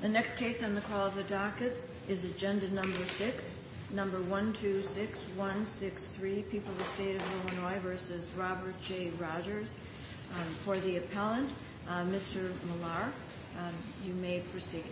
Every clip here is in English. The next case on the call of the docket is agenda number six number one two six one six three people the state of Illinois versus Robert J Rogers for the appellant Mr. Millar you may proceed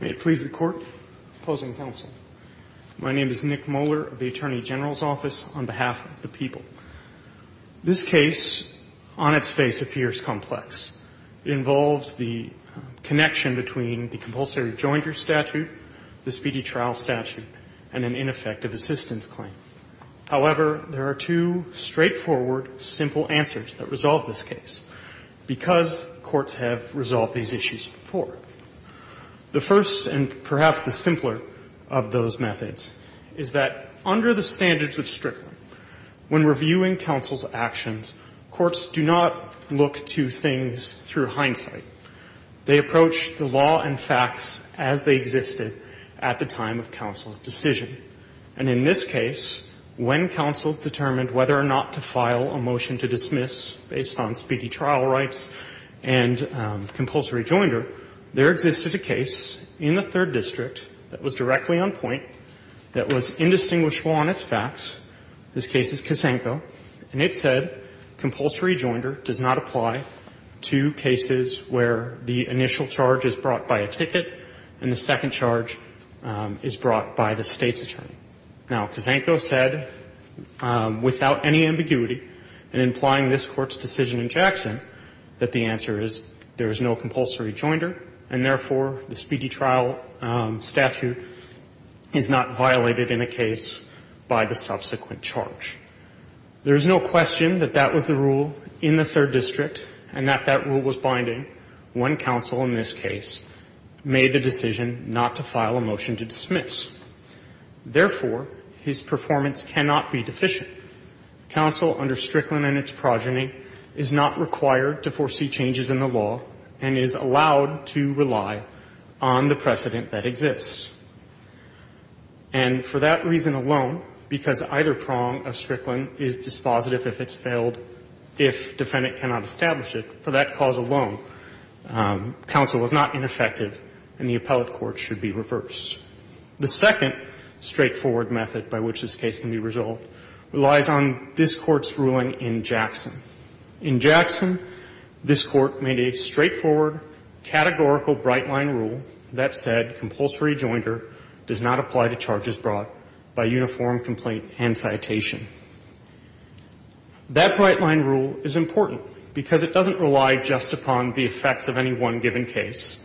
May it please the court opposing counsel. My name is Nick Moeller of the Attorney General's Office on behalf of the people. This case, on its face, appears complex. It involves the connection between the compulsory jointer statute, the speedy trial statute, and an ineffective assistance claim. However, there are two straightforward, simple answers that resolve this case, because courts have resolved these issues before. The first, and perhaps the simpler of those methods, is that under the standards of Strickland, when reviewing counsel's actions, courts do not look to things through hindsight. They approach the law and facts as they existed at the time of counsel's decision. And in this case, when counsel determined whether or not to file a motion to dismiss based on speedy trial rights and compulsory jointer, there existed a case in the Third District that was directly on point, that was indistinguishable on its facts. This case is Kazenko, and it said compulsory jointer does not apply to cases where the initial charge is brought by a ticket and the second charge is brought by the State's attorney. Now, Kazenko said, without any ambiguity, and implying this Court's decision in Jackson, that the answer is there is no compulsory jointer, and therefore, the speedy trial statute is not violated in a case by the subsequent charge. There is no question that that was the rule in the Third District and that that rule was binding when counsel in this case made the decision not to file a motion to dismiss. Therefore, his performance cannot be deficient. Counsel under Strickland and its progeny is not required to foresee changes in the law and is allowed to rely on the precedent that exists. And for that reason alone, because either prong of Strickland is dispositive if it's failed, if defendant cannot establish it, for that cause alone, counsel is not ineffective and the appellate court should be reversed. The second straightforward method by which this case can be resolved relies on this Court's ruling in Jackson. In Jackson, this Court made a straightforward categorical bright-line rule that said compulsory jointer does not apply to charges brought by uniform complaint and citation. That bright-line rule is important because it doesn't rely just upon the effects of any one given case.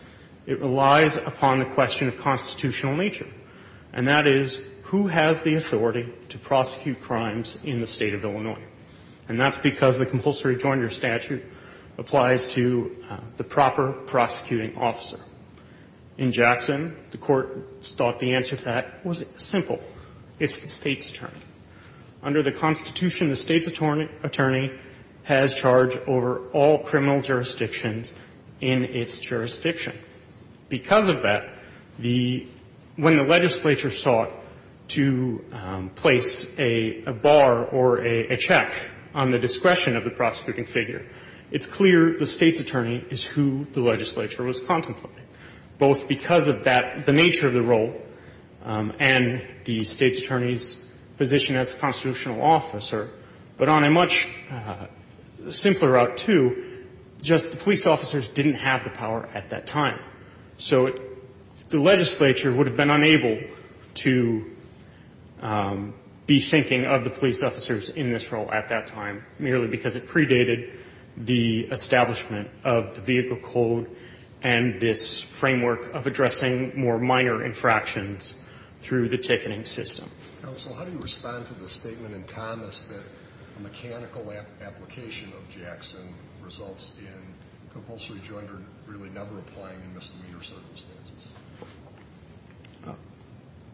It relies upon the question of constitutional nature, and that is, who has the authority to prosecute crimes in the State of Illinois? And that's because the compulsory jointer statute applies to the proper prosecuting officer. In Jackson, the Court thought the answer to that was simple. It's the State's attorney. Under the Constitution, the State's attorney has charge over all criminal jurisdictions in its jurisdiction. Because of that, the – when the legislature sought to place a bar or a check on the discretion of the prosecuting figure, it's clear the State's attorney is who the legislature was contemplating, both because of that, the nature of the role, and the State's attorney's position as constitutional officer, but on a much simpler route, too, just that the police officers didn't have the power at that time. So the legislature would have been unable to be thinking of the police officers in this role at that time, merely because it predated the establishment of the Vehicle Code and this framework of addressing more minor infractions through the ticketing system. Counsel, how do you respond to the statement in Thomas that a mechanical application of Jackson results in compulsory jointer really never applying in misdemeanor circumstances?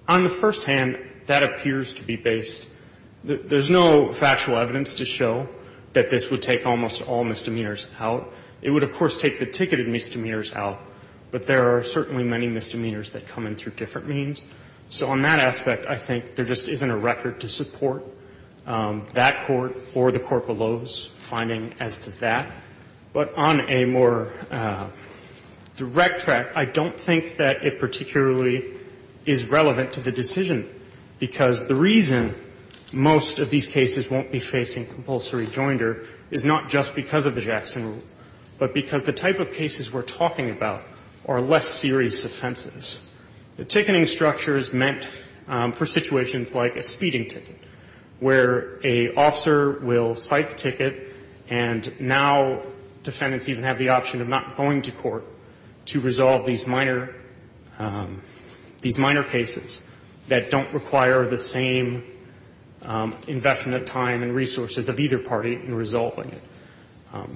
On the first hand, that appears to be based – there's no factual evidence to show that this would take almost all misdemeanors out. It would, of course, take the ticketed misdemeanors out, but there are certainly many misdemeanors that come in through different means. So on that aspect, I think there just isn't a record to support that court or the court below's finding as to that. But on a more direct track, I don't think that it particularly is relevant to the decision, because the reason most of these cases won't be facing compulsory jointer is not just because of the Jackson rule, but because the type of cases we're talking about are less serious offenses. The ticketing structure is meant for situations like a speeding ticket, where an officer will cite the ticket, and now defendants even have the option of not going to court to resolve these minor – these minor cases that don't require the same investment of time and resources of either party in resolving it.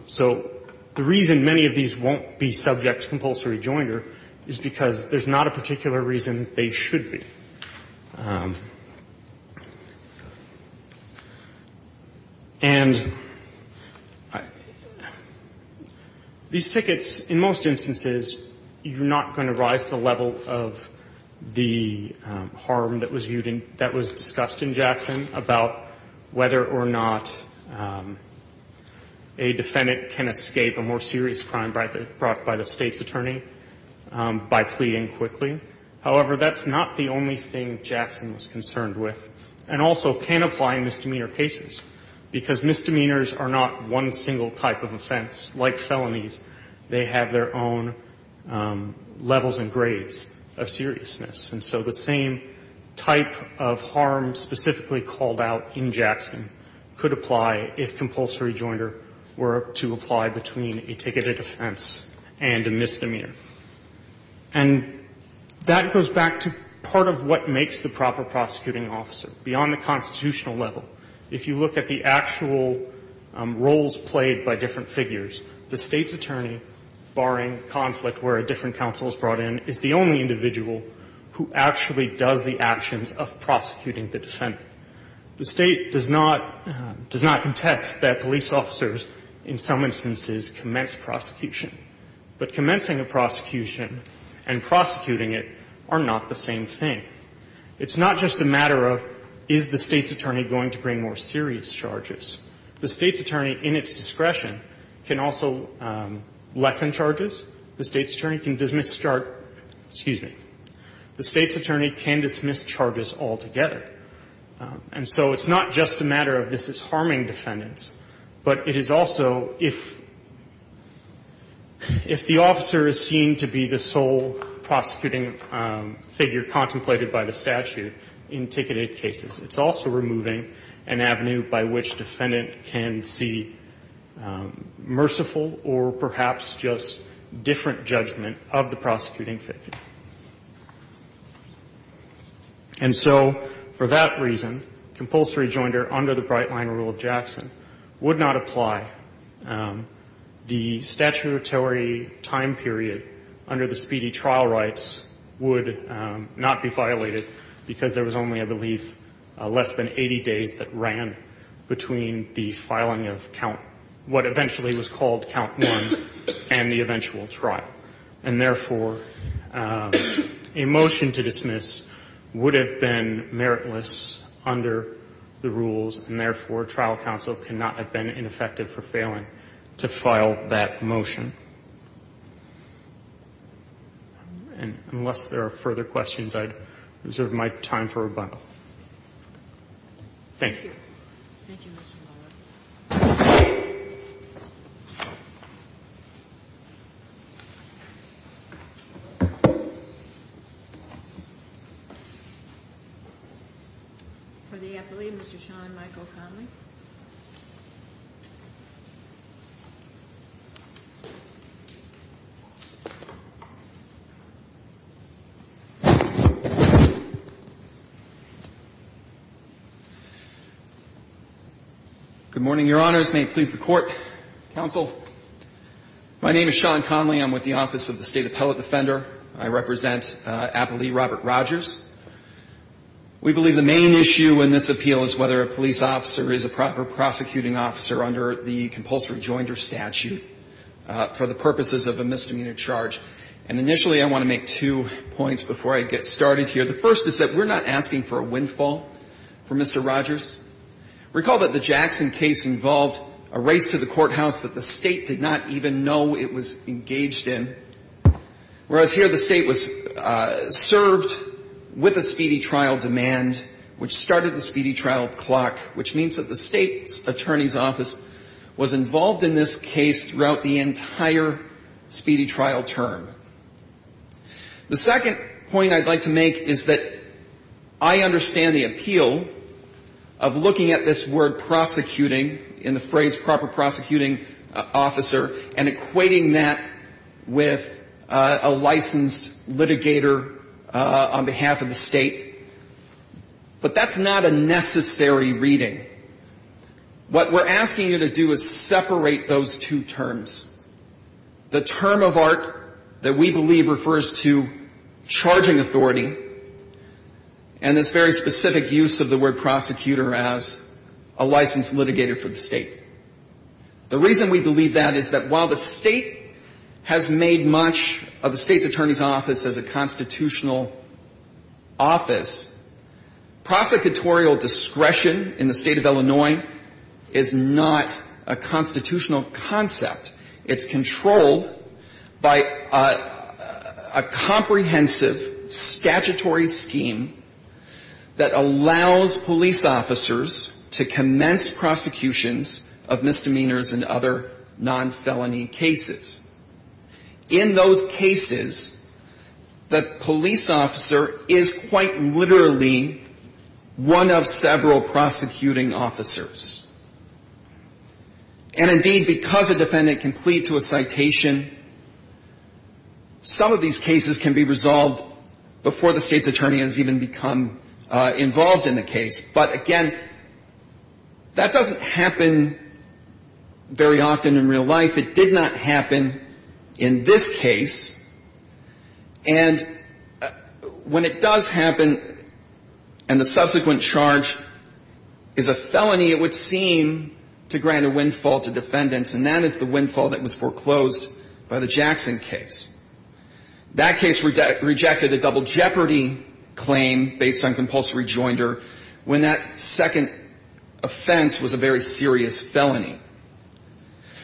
So the reason many of these won't be subject to compulsory jointer is because there's not a particular reason they should be. And these tickets, in most instances, you're not going to rise to the level of the harm that was viewed in – that was discussed in Jackson about whether or not a defendant can escape a more serious crime brought by the State's attorney by pleading quickly. However, that's not the only thing Jackson was concerned with, and also can apply in misdemeanor cases, because misdemeanors are not one single type of offense. Like felonies, they have their own levels and grades of seriousness. And so the same type of harm specifically called out in Jackson could apply if compulsory jointer were to apply between a ticketed offense and a misdemeanor. And that goes back to part of what makes the proper prosecuting officer. Beyond the constitutional level, if you look at the actual roles played by different figures, the State's attorney, barring conflict where a different counsel is brought in, is the only individual who actually does the actions of prosecuting the defendant. The State does not – does not contest that police officers in some instances commence prosecution. But commencing a prosecution and prosecuting it are not the same thing. It's not just a matter of is the State's attorney going to bring more serious charges. The State's attorney in its discretion can also lessen charges. The State's attorney can dismiss charges – excuse me. The State's attorney can dismiss charges altogether. And so it's not just a matter of this is harming defendants, but it is also if the officer is seen to be the sole prosecuting figure contemplated by the statute in ticketed cases. It's also removing an avenue by which defendant can see merciful or perhaps just different judgment of the prosecuting figure. And so for that reason, compulsory jointer under the Brightline Rule of Jackson would not apply. The statutory time period under the speedy trial rights would not be violated because there was only, I believe, less than 80 days that ran between the filing of count – what eventually was called count one and the eventual trial. And therefore, a motion to dismiss would have been meritless under the rules, and therefore, trial counsel cannot have been ineffective for failing to file that motion. And unless there are further questions, I'd reserve my time for rebuttal. Thank you. Thank you, Mr. Lawler. For the athlete, Mr. Sean Michael Connelly. Good morning, Your Honors. May it please the Court, counsel. My name is Sean Connelly. I'm with the Office of the State Appellate Defender. I represent Applee Robert Rogers. We believe the main issue in this appeal is whether a police officer is a proper prosecuting officer under the compulsory jointer statute for the purposes of a misdemeanor charge. And initially, I want to make two points before I get started here. The first is that we're not asking for a windfall for Mr. Rogers. Recall that the Jackson case involved a race to the courthouse that the State did not even know it was engaged in. Whereas here, the State was served with a speedy trial demand, which started the speedy trial clock, which means that the State's attorney's office was involved in this case throughout the entire speedy trial term. The second point I'd like to make is that I understand the appeal of looking at this word prosecuting in the phrase proper prosecuting officer and equating that with a licensed litigator on behalf of the State. But that's not a necessary reading. What we're asking you to do is separate those two terms. The term of art that we believe refers to charging authority and this very specific use of the word prosecutor as a licensed litigator for the State. The reason we believe that is that while the State has made much of the State's attorney's office as a constitutional office, prosecutorial discretion in the state of Illinois is not a constitutional concept. It's controlled by a comprehensive statutory scheme that allows police officers to commence prosecutions of misdemeanors and other non-felony cases. In those cases, the police officer is quite literally one of several prosecuting officers. And indeed, because a defendant can plead to a citation, some of these cases can be resolved before the State's attorney has even become involved in the case. But again, that doesn't happen very often in real life. It did not happen in this case. And when it does happen and the subsequent charge is a felony, it would seem to grant a windfall to defendants. And that is the windfall that was foreclosed by the Jackson case. That case rejected a double jeopardy claim based on compulsory joinder when that second offense was a very serious felony.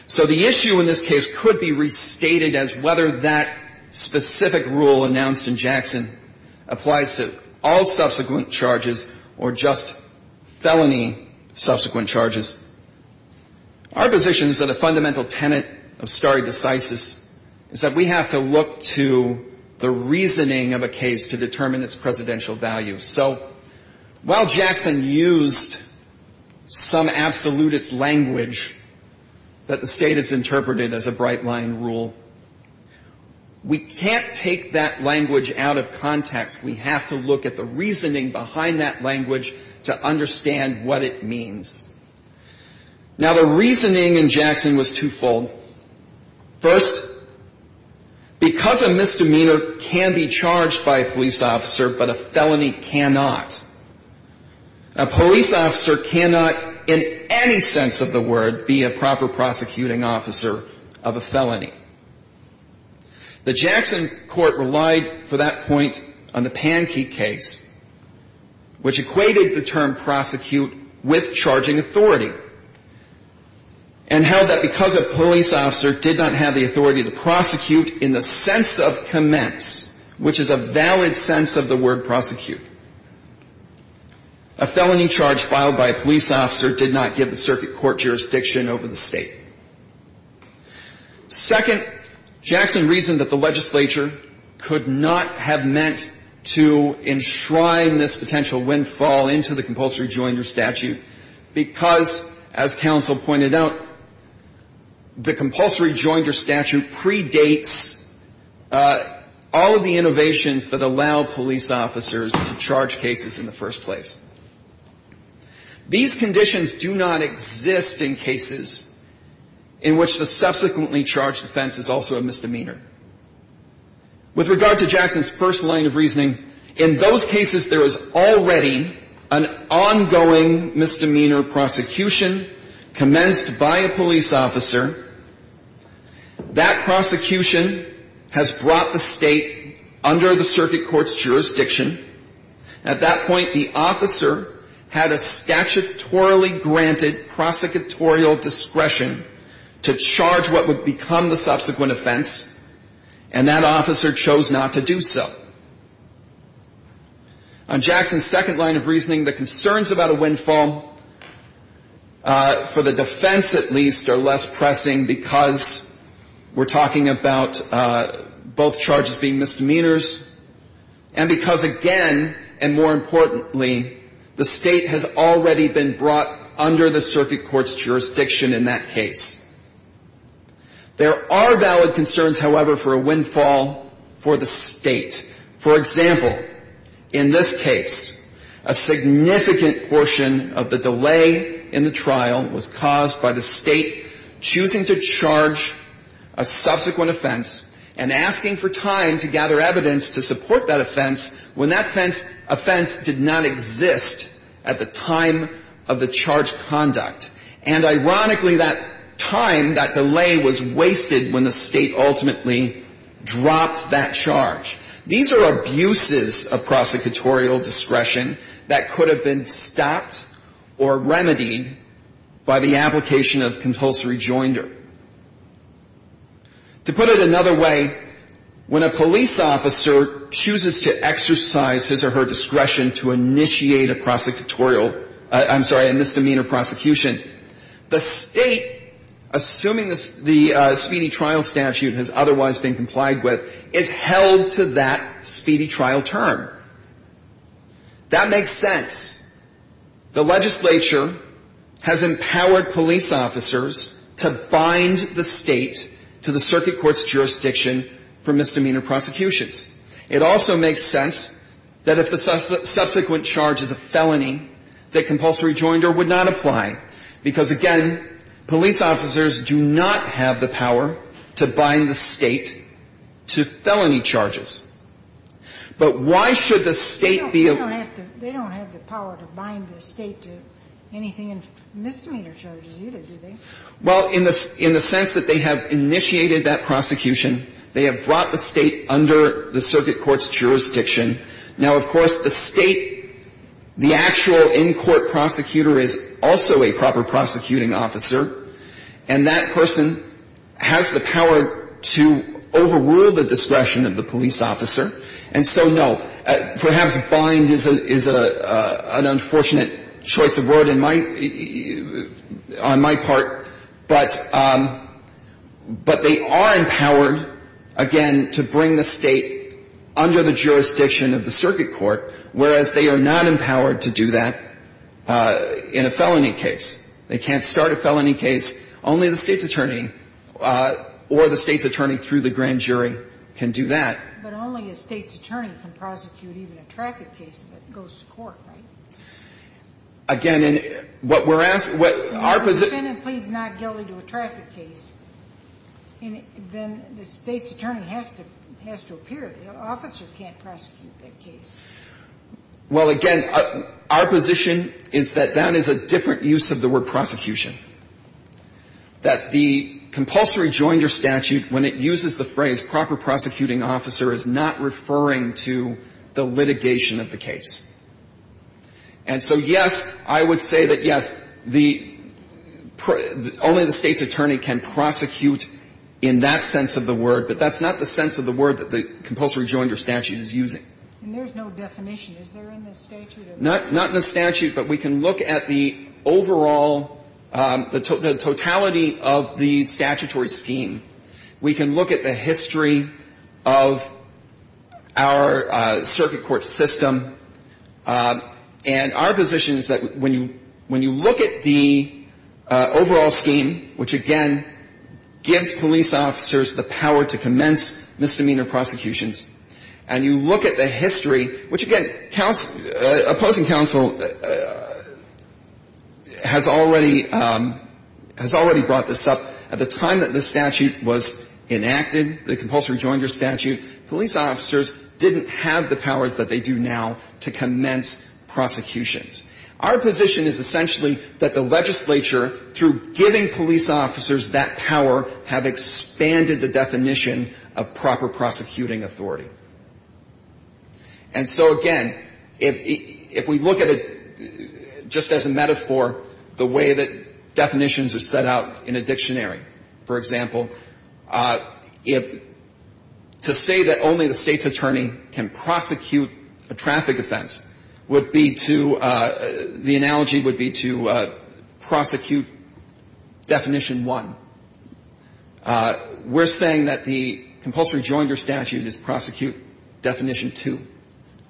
So the issue in this case could be restated as whether that specific rule announced in Jackson applies to all subsequent charges or just felony subsequent charges. Our position is that a fundamental tenet of stare decisis is that we have to look to the reasoning of a case to determine its presidential value. So while Jackson used some absolutist language that the State has interpreted as a bright-line rule, we can't take that language out of context. We have to look at the reasoning behind that language to understand what it means. Now, the reasoning in Jackson was twofold. First, because a misdemeanor can be charged by a police officer, but a felony cannot. A police officer cannot, in any sense of the word, be a proper prosecuting officer of a felony. The Jackson court relied for that point on the Pankey case, which equated the term prosecute with charging authority, and held that because a police officer did not have the authority to prosecute in the sense of commence, which is a valid sense of the word prosecute, a felony charge filed by a police officer did not give the circuit court jurisdiction over the State. Second, Jackson reasoned that the legislature could not have meant to enshrine this potential windfall into the compulsory joinder statute because, as counsel pointed out, the compulsory joinder statute predates all of the innovations that allow police officers to charge cases in the first place. These conditions do not exist in cases in which the subsequently charged offense is also a misdemeanor. With regard to Jackson's first line of reasoning, in those cases there is already an ongoing misdemeanor prosecution commenced by a police officer. That prosecution has brought the State under the circuit court's jurisdiction. At that point, the officer had a statutorily granted prosecutorial discretion to charge what would become the subsequent offense, and that officer chose not to do so. On Jackson's second line of reasoning, the concerns about a windfall, for the defense at least, are less pressing because we're talking about both charges being misdemeanors and because, again, and more importantly, the State has already been brought under the circuit court's jurisdiction. In Jackson's case, there are valid concerns, however, for a windfall for the State. For example, in this case, a significant portion of the delay in the trial was caused by the State choosing to charge a subsequent offense and asking for time to gather that time, that delay was wasted when the State ultimately dropped that charge. These are abuses of prosecutorial discretion that could have been stopped or remedied by the application of compulsory joinder. To put it another way, when a police officer chooses to exercise his or her discretion to initiate a misdemeanor prosecution, the State, assuming the speedy trial statute has otherwise been complied with, is held to that speedy trial term. That makes sense. The legislature has empowered police officers to bind the State to the circuit court's jurisdiction for misdemeanor prosecutions. It also makes sense that if the subsequent charge is a felony, that compulsory joinder would not apply, because, again, police officers do not have the power to bind the State to felony charges. But why should the State be able to? They don't have the power to bind the State to anything in misdemeanor charges either, do they? Well, in the sense that they have initiated that prosecution, they have brought the State under the circuit court's jurisdiction. Now, of course, the State, the actual in-court prosecutor is also a proper prosecuting officer. And that person has the power to overrule the discretion of the police officer. And so, no, perhaps bind is an unfortunate choice of word on my part, but they are empowered, again, to bring the State under the jurisdiction of the circuit court, whereas they are not empowered to do that in a felony case. They can't start a felony case. Only the State's attorney or the State's attorney through the grand jury can do that. But only a State's attorney can prosecute even a traffic case that goes to court, right? Again, and what we're asking what our position If the defendant pleads not guilty to a traffic case, then the State's attorney has to appear. The officer can't prosecute that case. Well, again, our position is that that is a different use of the word prosecution, that the compulsory joinder statute, when it uses the phrase proper prosecuting officer, is not referring to the litigation of the case. And so, yes, I would say that, yes, the only the State's attorney can prosecute in that sense of the word, but that's not the sense of the word that the compulsory joinder statute is using. And there's no definition. Is there in the statute? Not in the statute, but we can look at the overall, the totality of the statutory scheme. We can look at the history of our circuit court system. And our position is that when you look at the overall scheme, which, again, gives police officers the power to commence misdemeanor prosecutions, and you look at the history, which, again, opposing counsel has already brought this up at the time that the statute was enacted, the compulsory joinder statute, police officers didn't have the powers that they do now to commence prosecutions. Our position is essentially that the legislature, through giving police officers that power, have expanded the definition of proper prosecuting authority. And so, again, if we look at it just as a metaphor, the way that definitions are set out in a dictionary, for example, to say that only the State's attorney can prosecute a traffic offense would be to, the analogy would be to prosecute definition one. We're saying that the compulsory joinder statute is prosecute definition two,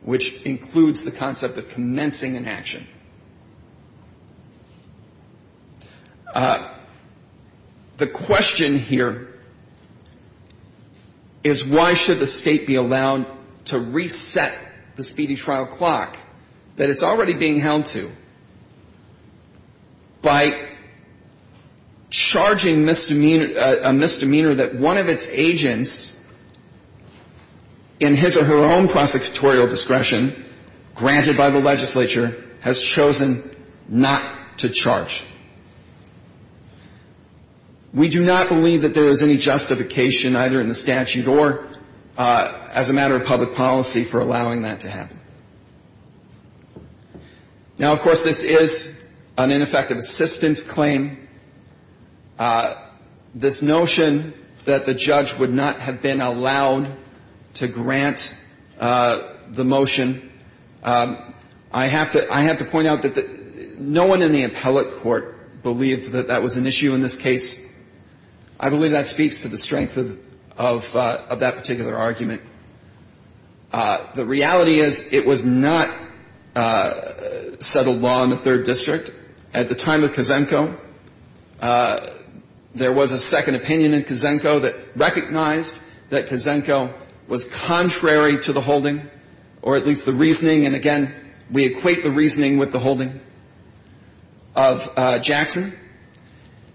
which includes the concept of commencing an action. The question here is why should the State be allowed to reset the speedy trial clock that it's already being held to by charging misdemeanor, a misdemeanor that one of its agents in his or her own prosecutorial discretion, granted by the State, has chosen not to charge? We do not believe that there is any justification, either in the statute or as a matter of public policy, for allowing that to happen. Now, of course, this is an ineffective assistance claim. This notion that the judge would not have been allowed to grant the motion, I have to point out that no one in the appellate court believed that that was an issue in this case. I believe that speaks to the strength of that particular argument. The reality is it was not settled law in the Third District. At the time of Kazenko, there was a second opinion in Kazenko that recognized that Kazenko was contrary to the holding or at least the reasoning. And again, we equate the reasoning with the holding of Jackson.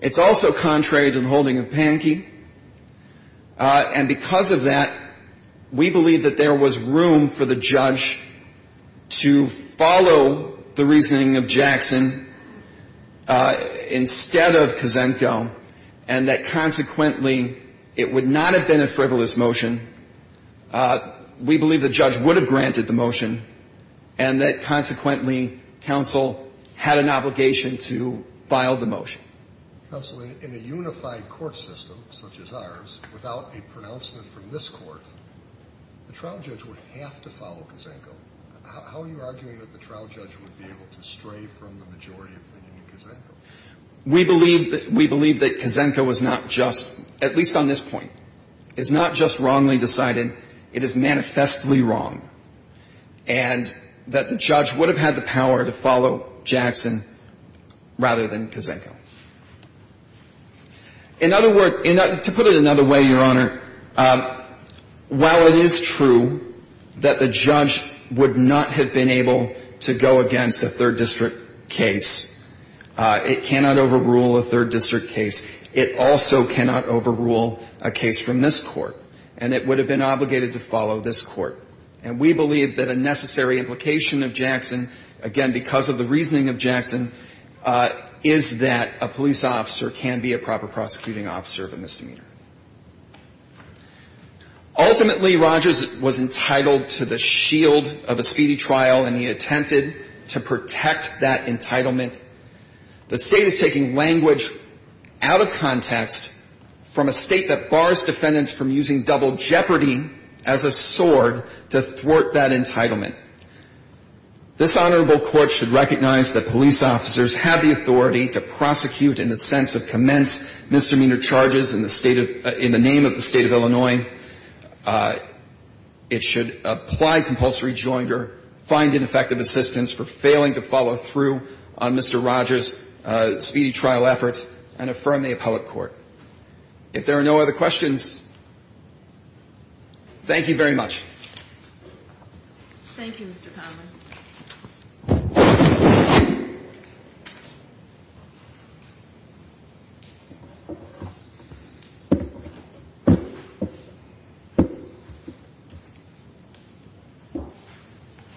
It's also contrary to the holding of Pankey. And because of that, we believe that there was room for the judge to follow the motion. We believe that the judge would have granted the motion and that consequently counsel had an obligation to file the motion. Counsel, in a unified court system such as ours, without a pronouncement from this court, the trial judge would have to follow Kazenko. How are you arguing that the trial judge would be able to stray from the majority opinion in Kazenko? We believe that Kazenko was not just, at least on this point, is not just wrongly decided. It is manifestly wrong. And that the judge would have had the power to follow Jackson rather than Kazenko. In other words, to put it another way, Your Honor, while it is true that the judge would not have been able to go against a third district case, it cannot overrule a third district case. It also cannot overrule a case from this court. And it would have been obligated to follow this court. And we believe that a necessary implication of Jackson, again, because of the reasoning of Jackson, is that a police officer can be a proper prosecuting officer of a misdemeanor. Ultimately, Rogers was entitled to the shield of a speedy trial, and he attempted to protect that entitlement. The State is taking language out of context from a State that bars defendants from using double jeopardy as a sword to thwart that entitlement. This honorable court should recognize that police officers have the authority to prosecute in the sense of commenced misdemeanor charges in the name of the State of Illinois. It should apply compulsory joinder, find ineffective assistance for failing to follow through on Mr. Rogers' speedy trial efforts, and affirm the appellate court. If there are no other questions, thank you very much. Thank you, Mr. Connelly.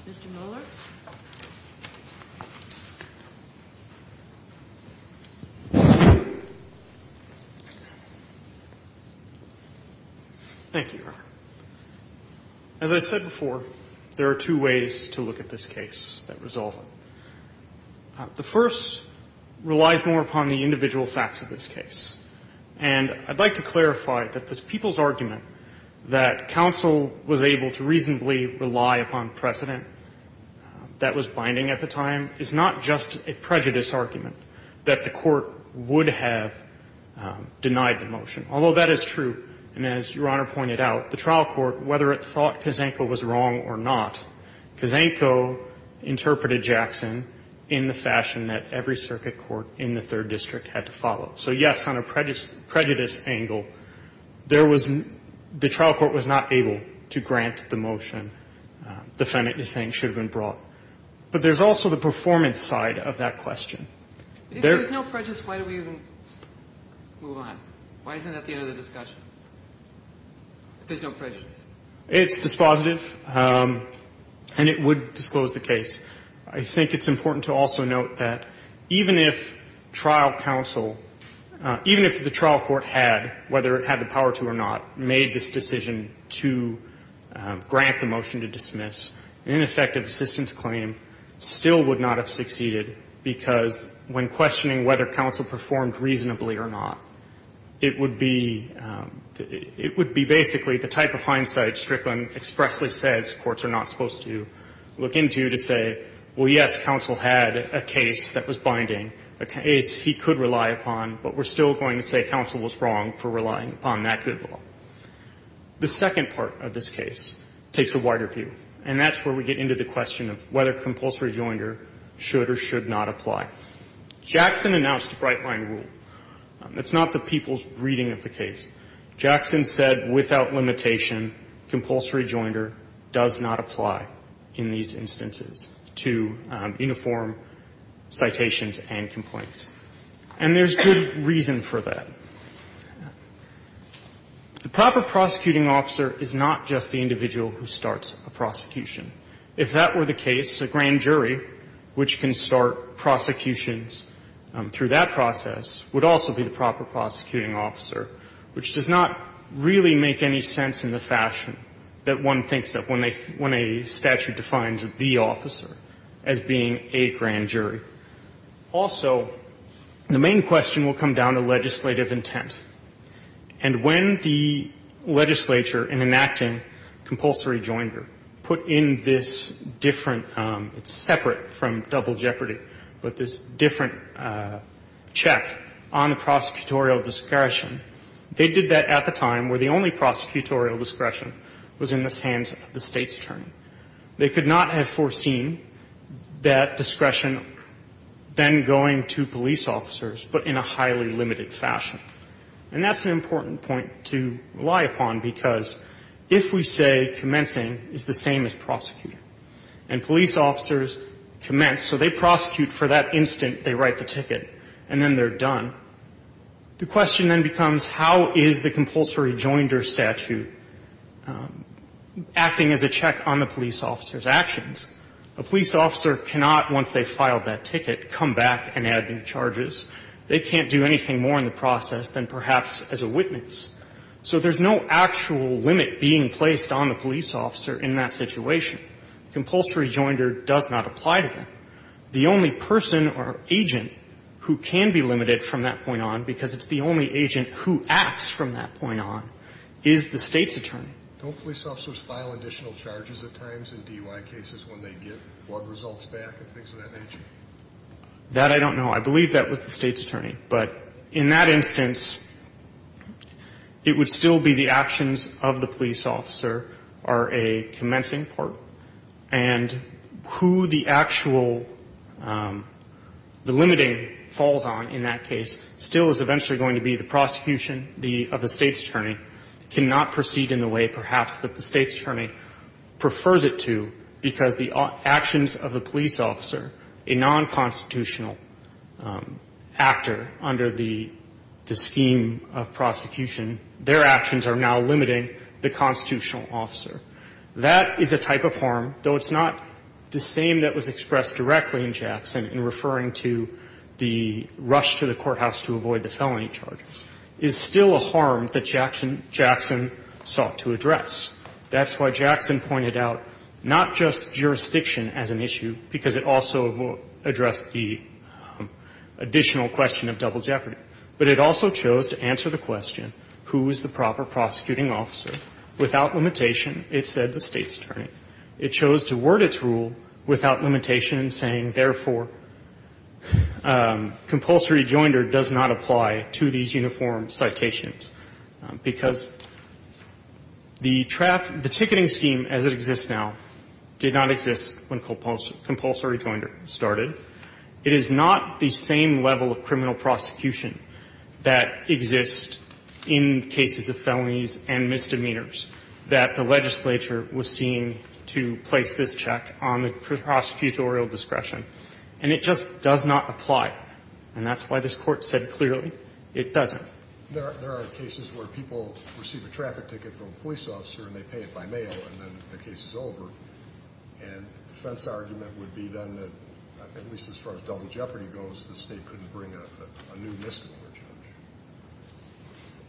Mr. Mueller. Thank you, Your Honor. As I said before, there are two ways to look at this case that resolve it. The first relies more upon the individual facts of this case. And I'd like to clarify that the people's argument that counsel was able to reasonably rely upon precedent that was binding at the time is not just a prejudice argument that the court would have denied the motion. Although that is true, and as Your Honor pointed out, the trial court, whether it thought Kazenko was wrong or not, Kazenko interpreted Jackson in the fashion that every circuit court in the Third District had to follow. So, yes, on a prejudice angle, the trial court was not able to grant the motion defendant is saying should have been brought. But there's also the performance side of that question. If there's no prejudice, why do we even move on? Why isn't it at the end of the discussion? If there's no prejudice. It's dispositive, and it would disclose the case. I think it's important to also note that even if trial counsel, even if the trial court had, whether it had the power to or not, made this decision to grant the motion to dismiss, an ineffective assistance claim still would not have succeeded, because when questioning whether counsel performed reasonably or not, it would be basically the type of hindsight Strickland expressly says courts are not supposed to look into to say, well, yes, counsel had a case that was binding, a case he could rely upon, but we're still going to say counsel was wrong for relying upon that good law. The second part of this case takes a wider view, and that's where we get into the limitation, compulsory joinder does not apply in these instances to uniform citations and complaints. And there's good reason for that. The proper prosecuting officer is not just the individual who starts a prosecution. If that were the case, a grand jury, which can start prosecutions through that process, would also be the grand jury. And there's a sense in the fashion that one thinks of when a statute defines the officer as being a grand jury. Also, the main question will come down to legislative intent. And when the legislature, in enacting compulsory joinder, put in this different, it's separate from double jeopardy, but this different check on the prosecutorial discretion, they did that at the time where the only prosecutorial discretion was in the hands of the State's attorney. They could not have foreseen that discretion then going to police officers, but in a highly limited fashion. And that's an important point to rely upon, because if we say commencing is the same as prosecuting, and police officers commence, so they prosecute for that instant they write the ticket, and then they're done, the question then becomes how is the compulsory joinder statute acting as a check on the police officer's actions? A police officer cannot, once they file that ticket, come back and add new charges to the police officer in that situation. Compulsory joinder does not apply to them. The only person or agent who can be limited from that point on, because it's the only agent who acts from that point on, is the State's attorney. Don't police officers file additional charges at times in DUI cases when they get blood results back and things of that nature? That I don't know. I believe that was the State's attorney. But in that instance, it would still be the actions of the police officer are a commencing part, and who the actual, the limiting falls on in that case still is eventually going to be the prosecution of the State's attorney, cannot proceed in the way perhaps that the State's attorney, the police officer, a non-constitutional actor under the scheme of prosecution, their actions are now limiting the constitutional officer. That is a type of harm, though it's not the same that was expressed directly in Jackson in referring to the rush to the courthouse to avoid the felony charges, is still a harm that the State's attorney has to address. That's why Jackson pointed out not just jurisdiction as an issue, because it also addressed the additional question of double jeopardy, but it also chose to answer the question, who is the proper prosecuting officer? Without limitation, it said the State's attorney. It chose to word its rule without limitation, saying, therefore, compulsory rejoinder does not apply to these uniform citations, because the trafficking, the ticketing scheme as it exists now did not exist when compulsory rejoinder started. It is not the same level of criminal prosecution that exists in cases of felonies and misdemeanors that the legislature was seeing to place this check on the prosecutorial discretion. And it just does not apply. And that's why this Court said clearly it doesn't. There are cases where people receive a traffic ticket from a police officer and they pay it by mail and then the case is over, and the defense argument would be then that, at least as far as double jeopardy goes, the State couldn't bring a new misdemeanor charge.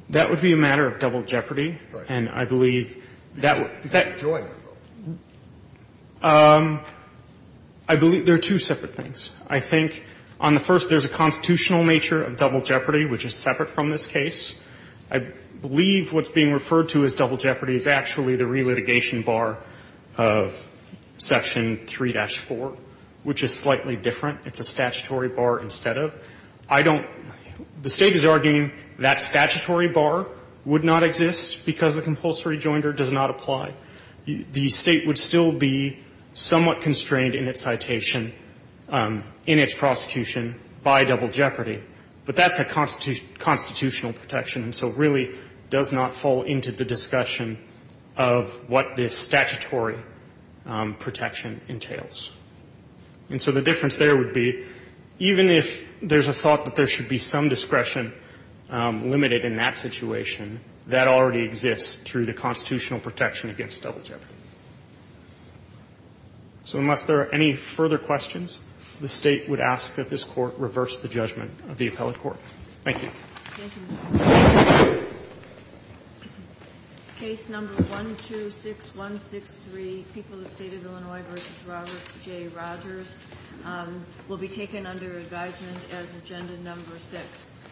That would be a matter of double jeopardy. And I believe that would be that. That rejoinder. I believe there are two separate things. I think on the first, there's a constitutional nature of double jeopardy, which is separate from this case. I believe what's being referred to as double jeopardy is actually the relitigation bar of Section 3-4, which is slightly different. It's a statutory bar instead of. I don't. The State is arguing that statutory bar would not exist because the compulsory rejoinder does not apply. The State would still be somewhat constrained in its citation, in its prosecution by double jeopardy. But that's a constitutional protection. And so it really does not fall into the discussion of what this statutory protection entails. And so the difference there would be, even if there's a thought that there should be some discretion limited in that situation, that already exists through the constitutional protection against double jeopardy. So unless there are any further questions, the State would ask that this Court reverse the judgment of the appellate court. Thank you. Thank you. Case number 126163, People of the State of Illinois v. Robert J. Rogers, will be taken under advisement as agenda number six.